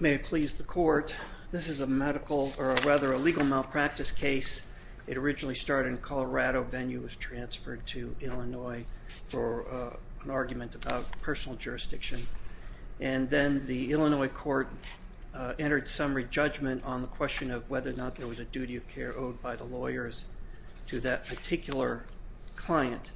May it please the Court, this is a medical, or rather a legal malpractice case. It originally started in Colorado, then it was transferred to Illinois for an argument about personal jurisdiction. And then the Illinois court entered some re-judgment on the question of whether or not there was a duty of care owed by the lawyers to that particular client.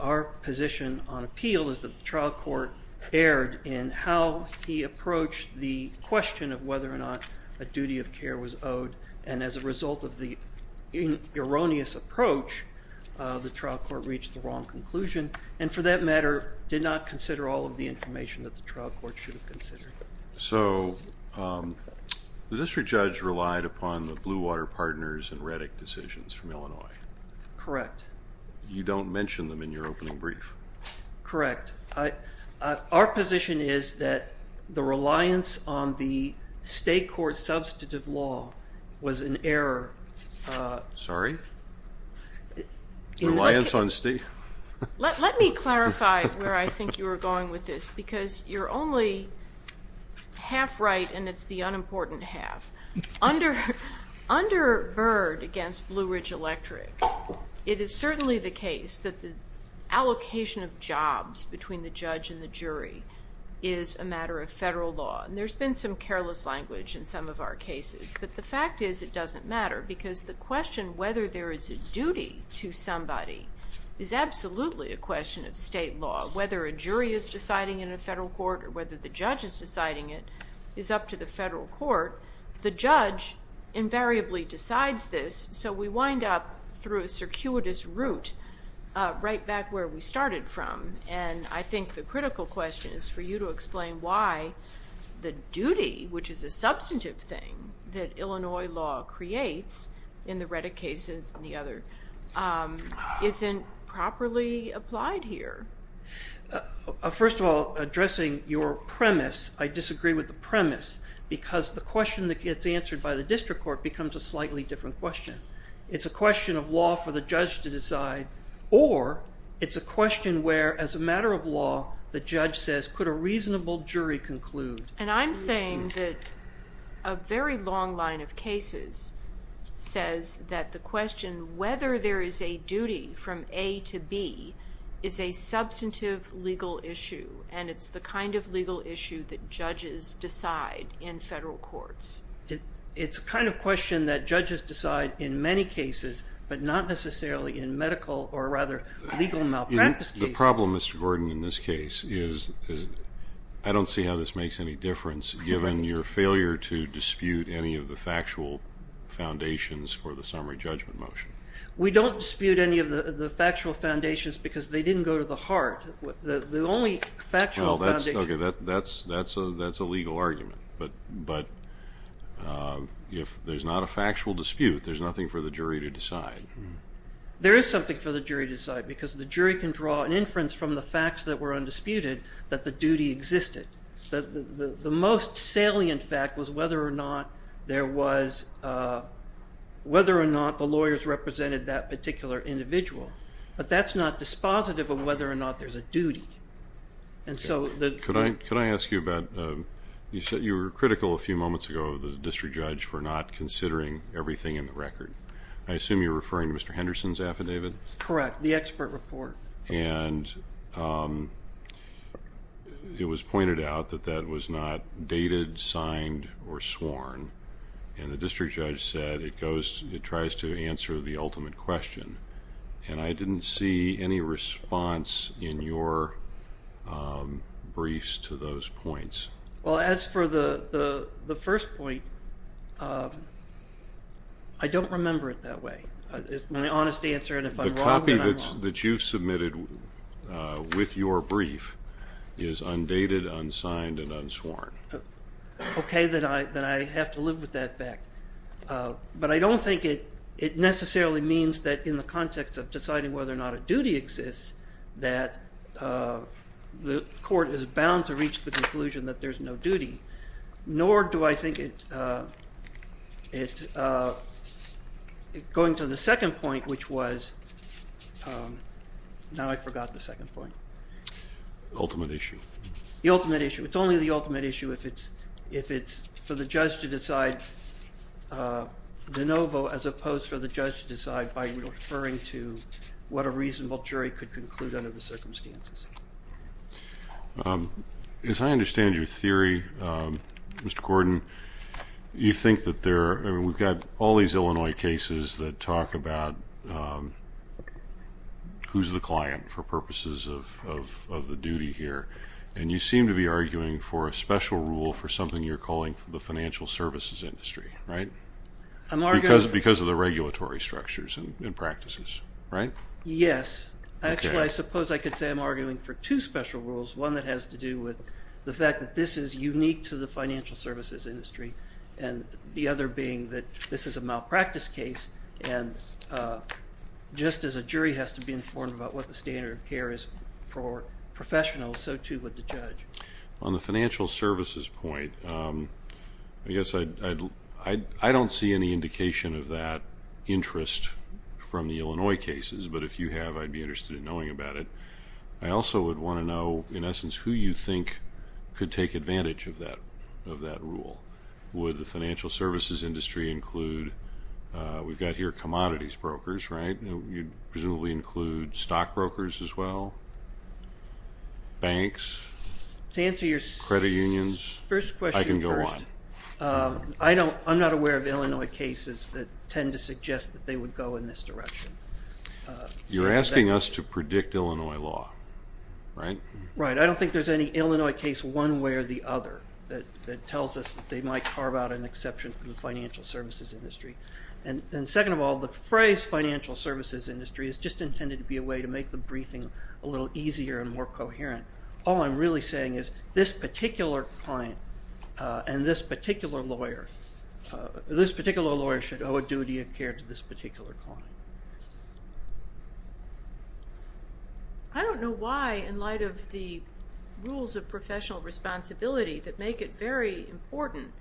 Our position on appeal is that the trial court erred in how he approached the question of whether or not a duty of care was owed, and as a result of the erroneous approach, the trial court reached the wrong conclusion, and for that matter did not consider all of the information that the trial court should have considered. So the district judge relied upon the Blue Water Partners and Reddick decisions from Illinois. Correct. You don't mention them in your opening brief. Correct. Our position is that the reliance on the state court's substantive law was an error. Sorry? Reliance on state? Let me clarify where I think you were going with this, because you're only half right and it's the unimportant half. Under Byrd against Blue Ridge Electric, it is certainly the case that the allocation of jobs between the judge and the jury is a matter of federal law, and there's been some careless language in some of our cases, but the fact is it doesn't matter because the question whether there is a duty to somebody is absolutely a question of state law. Whether a jury is deciding in a federal court or whether the judge is deciding it is up to the federal court. First of all, addressing your premise, I disagree with the premise, because the question that gets answered by the district court becomes a slightly different question. It's a question of law for the judge to decide, or it's a question where, as a matter of law, the judge says, could a reasonable jury conclude? And I'm saying that a very long line of cases says that the question whether there is a duty from A to B is a substantive legal issue, and it's the kind of legal issue that judges decide in federal courts. It's the kind of question that judges decide in many cases, but not necessarily in medical or, rather, legal malpractice cases. The problem, Mr. Gordon, in this case is I don't see how this makes any difference given your failure to dispute any of the factual foundations for the summary judgment motion. We don't dispute any of the factual foundations because they didn't go to the heart. The only factual foundation... That's a legal argument, but if there's not a factual dispute, there's nothing for the jury to decide. There is something for the jury to decide because the jury can draw an inference from the facts that were undisputed that the duty existed. The most salient fact was whether or not the lawyers represented that particular individual, but that's not dispositive of whether or not there's a duty. Could I ask you about... You said you were critical a few moments ago of the district judge for not considering everything in the record. I assume you're referring to Mr. Henderson's affidavit? Correct, the expert report. It was pointed out that that was not dated, signed, or sworn, and the district judge said it tries to answer the ultimate question. I didn't see any response in your briefs to those points. As for the first point, I don't remember it that way. It's my honest answer, and if I'm wrong, then I'm wrong. The copy that you submitted with your brief is undated, unsigned, and unsworn. Okay, then I have to live with that fact. But I don't think it necessarily means that in the context of deciding whether or not a duty exists that the court is bound to reach the conclusion that there's no duty, nor do I think it's going to the second point, which was... Now I forgot the second point. The ultimate issue. The ultimate issue. It's only the ultimate issue if it's for the judge to decide de novo as opposed to for the judge to decide by referring to what a reasonable jury could conclude under the circumstances. As I understand your theory, Mr. Gordon, you think that there are... I mean, we've got all these Illinois cases that talk about who's the client for purposes of the duty here, and you seem to be arguing for a special rule for something you're calling the financial services industry, right? Because of the regulatory structures and practices, right? Yes. Actually, I suppose I could say I'm arguing for two special rules, one that has to do with the fact that this is unique to the financial services industry and the other being that this is a malpractice case, and just as a jury has to be informed about what the standard of care is for professionals, so too would the judge. On the financial services point, I guess I don't see any indication of that interest from the Illinois cases, but if you have, I'd be interested in knowing about it. I also would want to know, in essence, who you think could take advantage of that rule. Would the financial services industry include, we've got here commodities brokers, right? You'd presumably include stockbrokers as well, banks, credit unions? First question first. I can go on. I'm not aware of Illinois cases that tend to suggest that they would go in this direction. You're asking us to predict Illinois law, right? Right. I don't think there's any Illinois case one way or the other that tells us that they might carve out an exception from the financial services industry. And second of all, the phrase financial services industry is just intended to be a way to make the briefing a little easier and more coherent. All I'm really saying is this particular client and this particular lawyer, this particular lawyer should owe a duty of care to this particular client. I don't know why, in light of the rules of professional responsibility that make it very important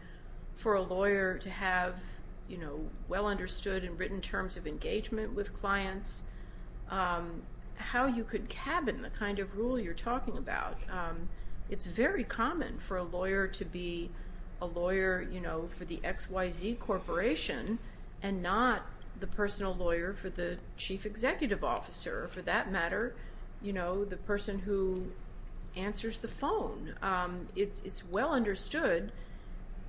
for a lawyer to have well understood and written terms of engagement with clients, how you could cabin the kind of rule you're talking about. It's very common for a lawyer to be a lawyer for the XYZ Corporation and not the personal lawyer for the chief executive officer. For that matter, the person who answers the phone. It's well understood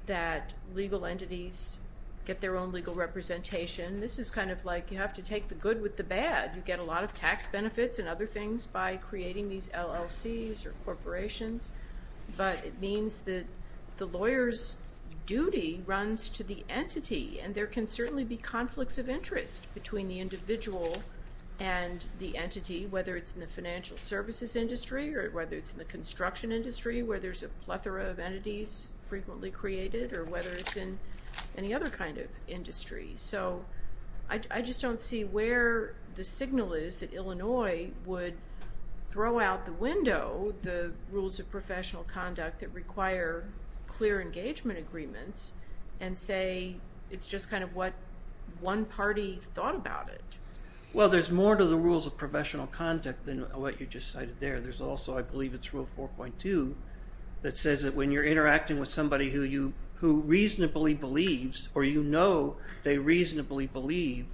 that legal entities get their own legal representation. This is kind of like you have to take the good with the bad. You get a lot of tax benefits and other things by creating these LLCs or corporations. But it means that the lawyer's duty runs to the entity. And there can certainly be conflicts of interest between the individual and the entity, whether it's in the financial services industry or whether it's in the construction industry where there's a plethora of entities frequently created or whether it's in any other kind of industry. So I just don't see where the signal is that Illinois would throw out the window, the rules of professional conduct that require clear engagement agreements and say it's just kind of what one party thought about it. Well, there's more to the rules of professional conduct than what you just cited there. There's also, I believe, it's rule 4.2 that says that when you're interacting with somebody who reasonably believes or you know they reasonably believe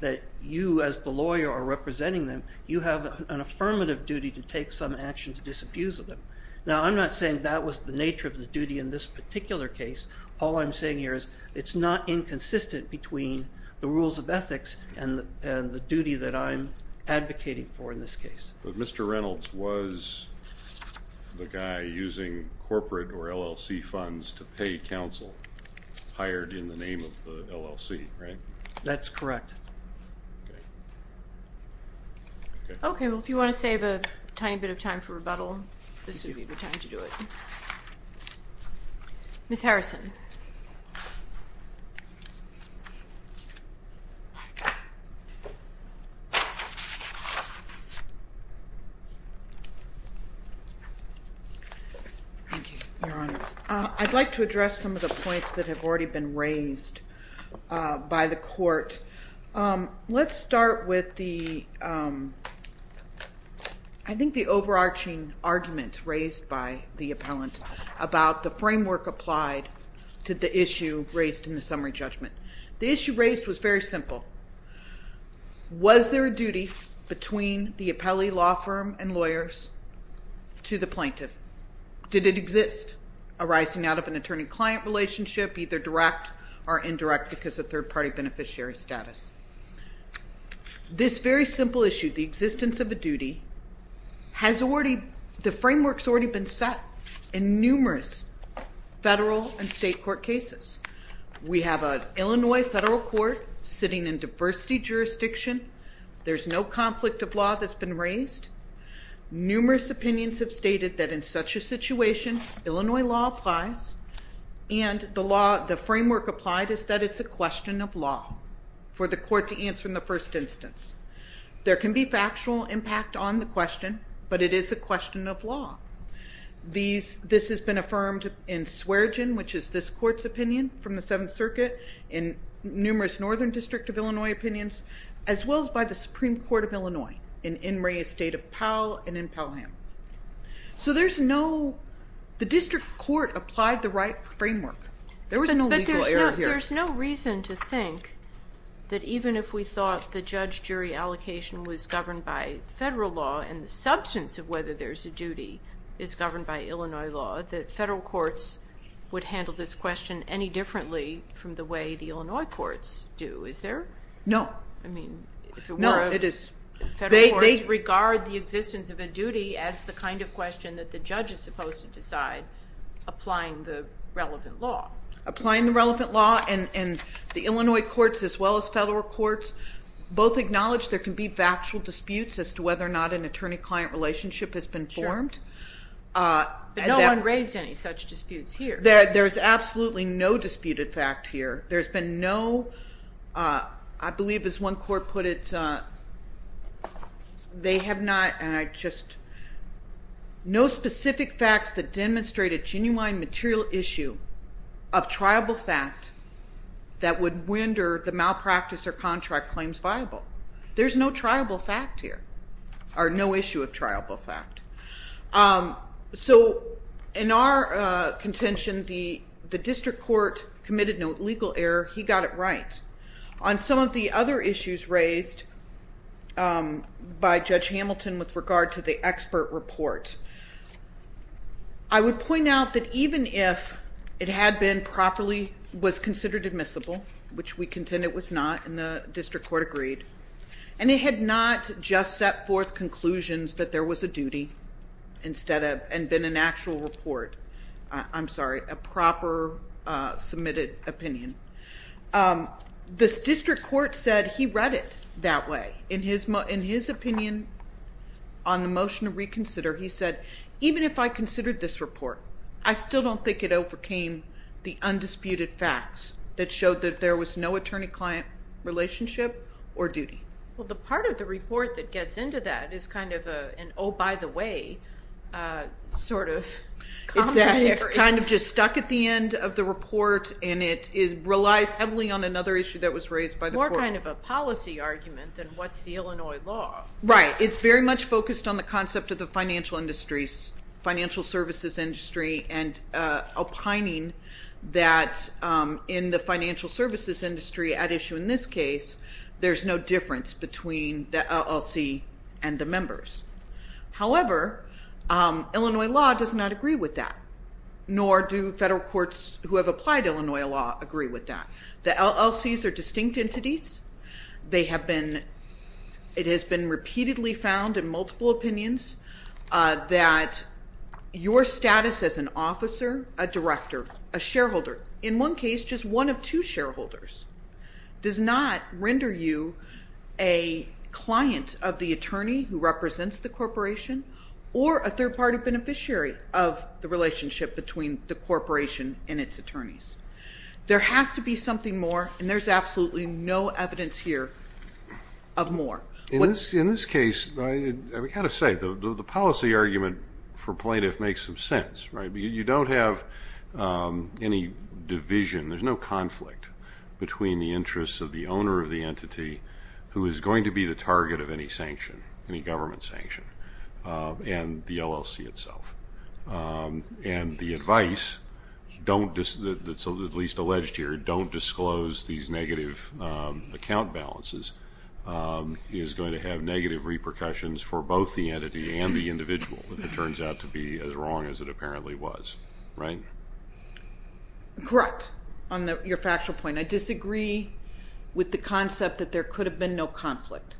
that you as the lawyer are representing them, you have an affirmative duty to take some action to disabuse of them. Now, I'm not saying that was the nature of the duty in this particular case. All I'm saying here is it's not inconsistent between the rules of ethics and the duty that I'm advocating for in this case. But Mr. Reynolds was the guy using corporate or LLC funds to pay counsel hired in the name of the LLC, right? That's correct. Okay, well, if you want to save a tiny bit of time for rebuttal, this would be a good time to do it. Ms. Harrison. Thank you, Your Honor. I'd like to address some of the points that have already been raised by the court. Let's start with the, I think, the overarching argument raised by the appellant about the framework applied to the issue raised in the summary judgment. The issue raised was very simple. Was there a duty between the appellee, law firm, and lawyers to the plaintiff? Did it exist arising out of an attorney-client relationship, either direct or indirect because of third-party beneficiary status? This very simple issue, the existence of a duty, the framework's already been set in numerous federal and state court cases. We have an Illinois federal court sitting in diversity jurisdiction. There's no conflict of law that's been raised. Illinois law applies, and the framework applied is that it's a question of law for the court to answer in the first instance. There can be factual impact on the question, but it is a question of law. This has been affirmed in Sweregin, which is this court's opinion from the Seventh Circuit, in numerous Northern District of Illinois opinions, as well as by the Supreme Court of Illinois in Inouye State of Powell and in Pelham. So there's no, the district court applied the right framework. There was no legal error here. But there's no reason to think that even if we thought the judge-jury allocation was governed by federal law and the substance of whether there's a duty is governed by Illinois law, that federal courts would handle this question any differently from the way the Illinois courts do. Is there? No. No, it is. Federal courts regard the existence of a duty as the kind of question that the judge is supposed to decide, applying the relevant law. Applying the relevant law, and the Illinois courts as well as federal courts both acknowledge there can be factual disputes as to whether or not an attorney-client relationship has been formed. But no one raised any such disputes here. There's absolutely no disputed fact here. There's been no, I believe as one court put it, they have not, and I just, no specific facts that demonstrate a genuine material issue of triable fact that would render the malpractice or contract claims viable. There's no triable fact here, or no issue of triable fact. So in our contention, the district court committed no legal error. He got it right. On some of the other issues raised by Judge Hamilton with regard to the expert report, I would point out that even if it had been properly, was considered admissible, which we contend it was not, and the district court agreed, and it had not just set forth conclusions that there was a duty instead of, and been an actual report, I'm sorry, a proper submitted opinion. The district court said he read it that way. In his opinion on the motion to reconsider, he said, even if I considered this report, I still don't think it overcame the undisputed facts that showed that there was no attorney-client relationship or duty. Well, the part of the report that gets into that is kind of an, oh, by the way, sort of commentary. Exactly. It's kind of just stuck at the end of the report, and it relies heavily on another issue that was raised by the court. More kind of a policy argument than what's the Illinois law. Right. It's very much focused on the concept of the financial industries, and opining that in the financial services industry at issue in this case, there's no difference between the LLC and the members. However, Illinois law does not agree with that, nor do federal courts who have applied Illinois law agree with that. The LLCs are distinct entities. It has been repeatedly found in multiple opinions that your status as an officer, a director, a shareholder, in one case just one of two shareholders, does not render you a client of the attorney who represents the corporation or a third-party beneficiary of the relationship between the corporation and its attorneys. There has to be something more, and there's absolutely no evidence here of more. In this case, I've got to say, the policy argument for plaintiff makes some sense, right? You don't have any division. There's no conflict between the interests of the owner of the entity who is going to be the target of any sanction, any government sanction, and the LLC itself. And the advice that's at least alleged here, don't disclose these negative account balances, is going to have negative repercussions for both the entity and the individual if it turns out to be as wrong as it apparently was, right? Correct, on your factual point. I disagree with the concept that there could have been no conflict.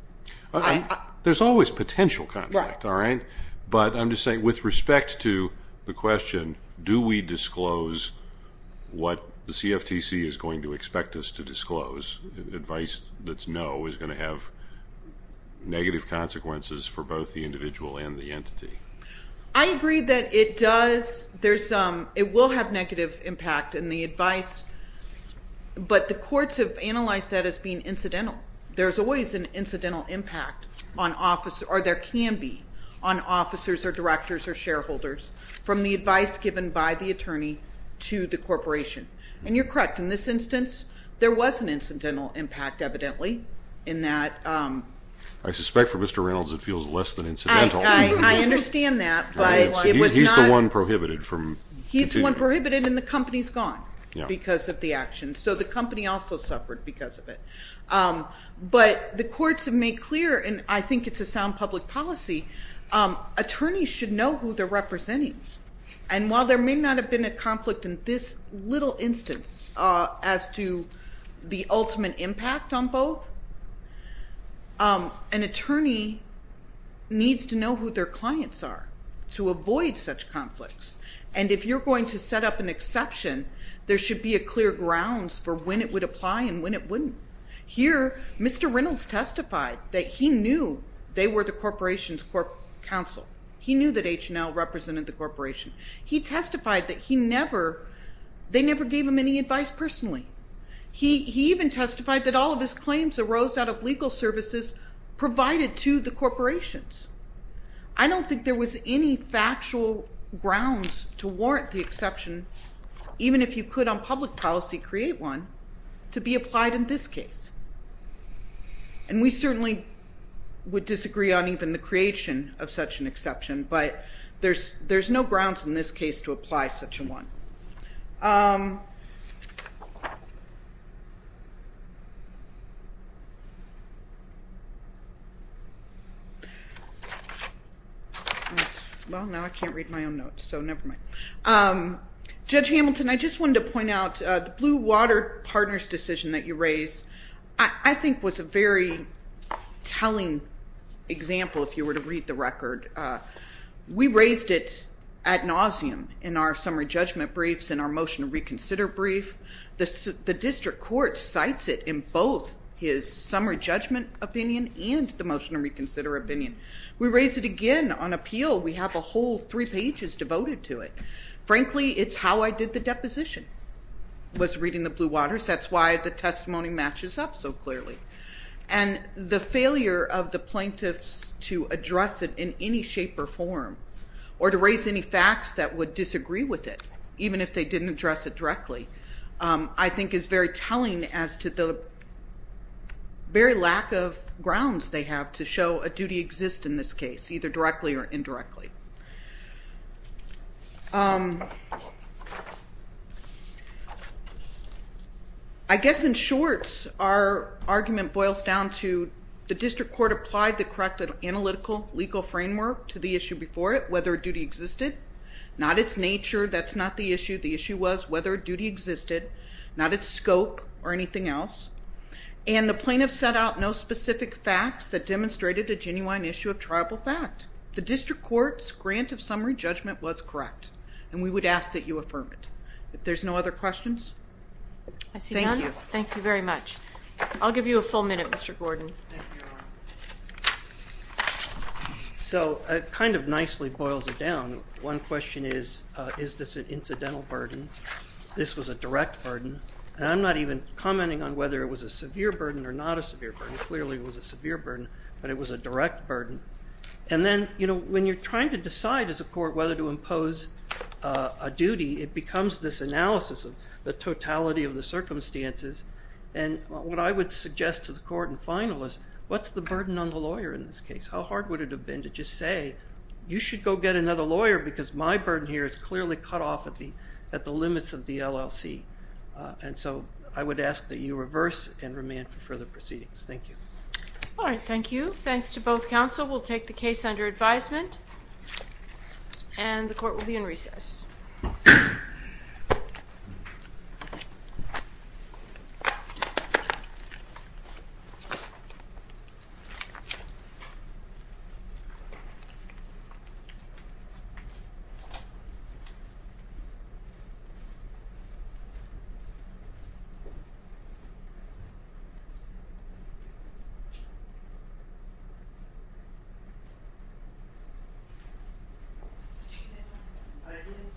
There's always potential conflict, all right? But I'm just saying with respect to the question, do we disclose what the CFTC is going to expect us to disclose? Advice that's no is going to have negative consequences for both the individual and the entity. I agree that it does. It will have negative impact in the advice, but the courts have analyzed that as being incidental. There's always an incidental impact or there can be on officers or directors or shareholders from the advice given by the attorney to the corporation. And you're correct. In this instance, there was an incidental impact evidently in that. I suspect for Mr. Reynolds it feels less than incidental. I understand that, but it was not. He's the one prohibited from. He's the one prohibited and the company's gone because of the action. So the company also suffered because of it. But the courts have made clear, and I think it's a sound public policy, attorneys should know who they're representing. And while there may not have been a conflict in this little instance as to the ultimate impact on both, an attorney needs to know who their clients are to avoid such conflicts. And if you're going to set up an exception, there should be a clear grounds for when it would apply and when it wouldn't. Here, Mr. Reynolds testified that he knew they were the corporation's counsel. He knew that H&L represented the corporation. He testified that they never gave him any advice personally. He even testified that all of his claims arose out of legal services provided to the corporations. I don't think there was any factual grounds to warrant the exception, even if you could on public policy create one, to be applied in this case. And we certainly would disagree on even the creation of such an exception, but there's no grounds in this case to apply such a one. Well, now I can't read my own notes, so never mind. Judge Hamilton, I just wanted to point out the Blue Water Partners decision that you raised, I think was a very telling example if you were to read the record. We raised it ad nauseum in our summary judgment briefs and our motion to reconsider brief. The district court cites it in both his summary judgment opinion and the motion to reconsider opinion. We raised it again on appeal. We have a whole three pages devoted to it. Frankly, it's how I did the deposition was reading the Blue Waters. That's why the testimony matches up so clearly. And the failure of the plaintiffs to address it in any shape or form or to raise any facts that would disagree with it, even if they didn't address it directly, I think is very telling as to the very lack of grounds they have to show a duty exists in this case, either directly or indirectly. I guess in short, our argument boils down to the district court applied the correct analytical legal framework to the issue before it, whether a duty existed. Not its nature. That's not the issue. The issue was whether a duty existed, not its scope or anything else. And the plaintiffs set out no specific facts that demonstrated a genuine issue of triable fact. The district court's grant of summary judgment was correct, and we would ask that you affirm it. If there's no other questions, thank you. I see none. Thank you very much. I'll give you a full minute, Mr. Gordon. Thank you, Your Honor. So it kind of nicely boils it down. One question is, is this an incidental burden? This was a direct burden. And I'm not even commenting on whether it was a severe burden or not a severe burden. Clearly it was a severe burden, but it was a direct burden. And then, you know, when you're trying to decide as a court whether to impose a duty, it becomes this analysis of the totality of the circumstances. And what I would suggest to the court and final is, what's the burden on the lawyer in this case? How hard would it have been to just say, you should go get another lawyer because my burden here is clearly cut off at the limits of the LLC. And so I would ask that you reverse and remand for further proceedings. Thank you. All right. Thank you. Thanks to both counsel. We'll take the case under advisement, and the court will be in recess. Thank you.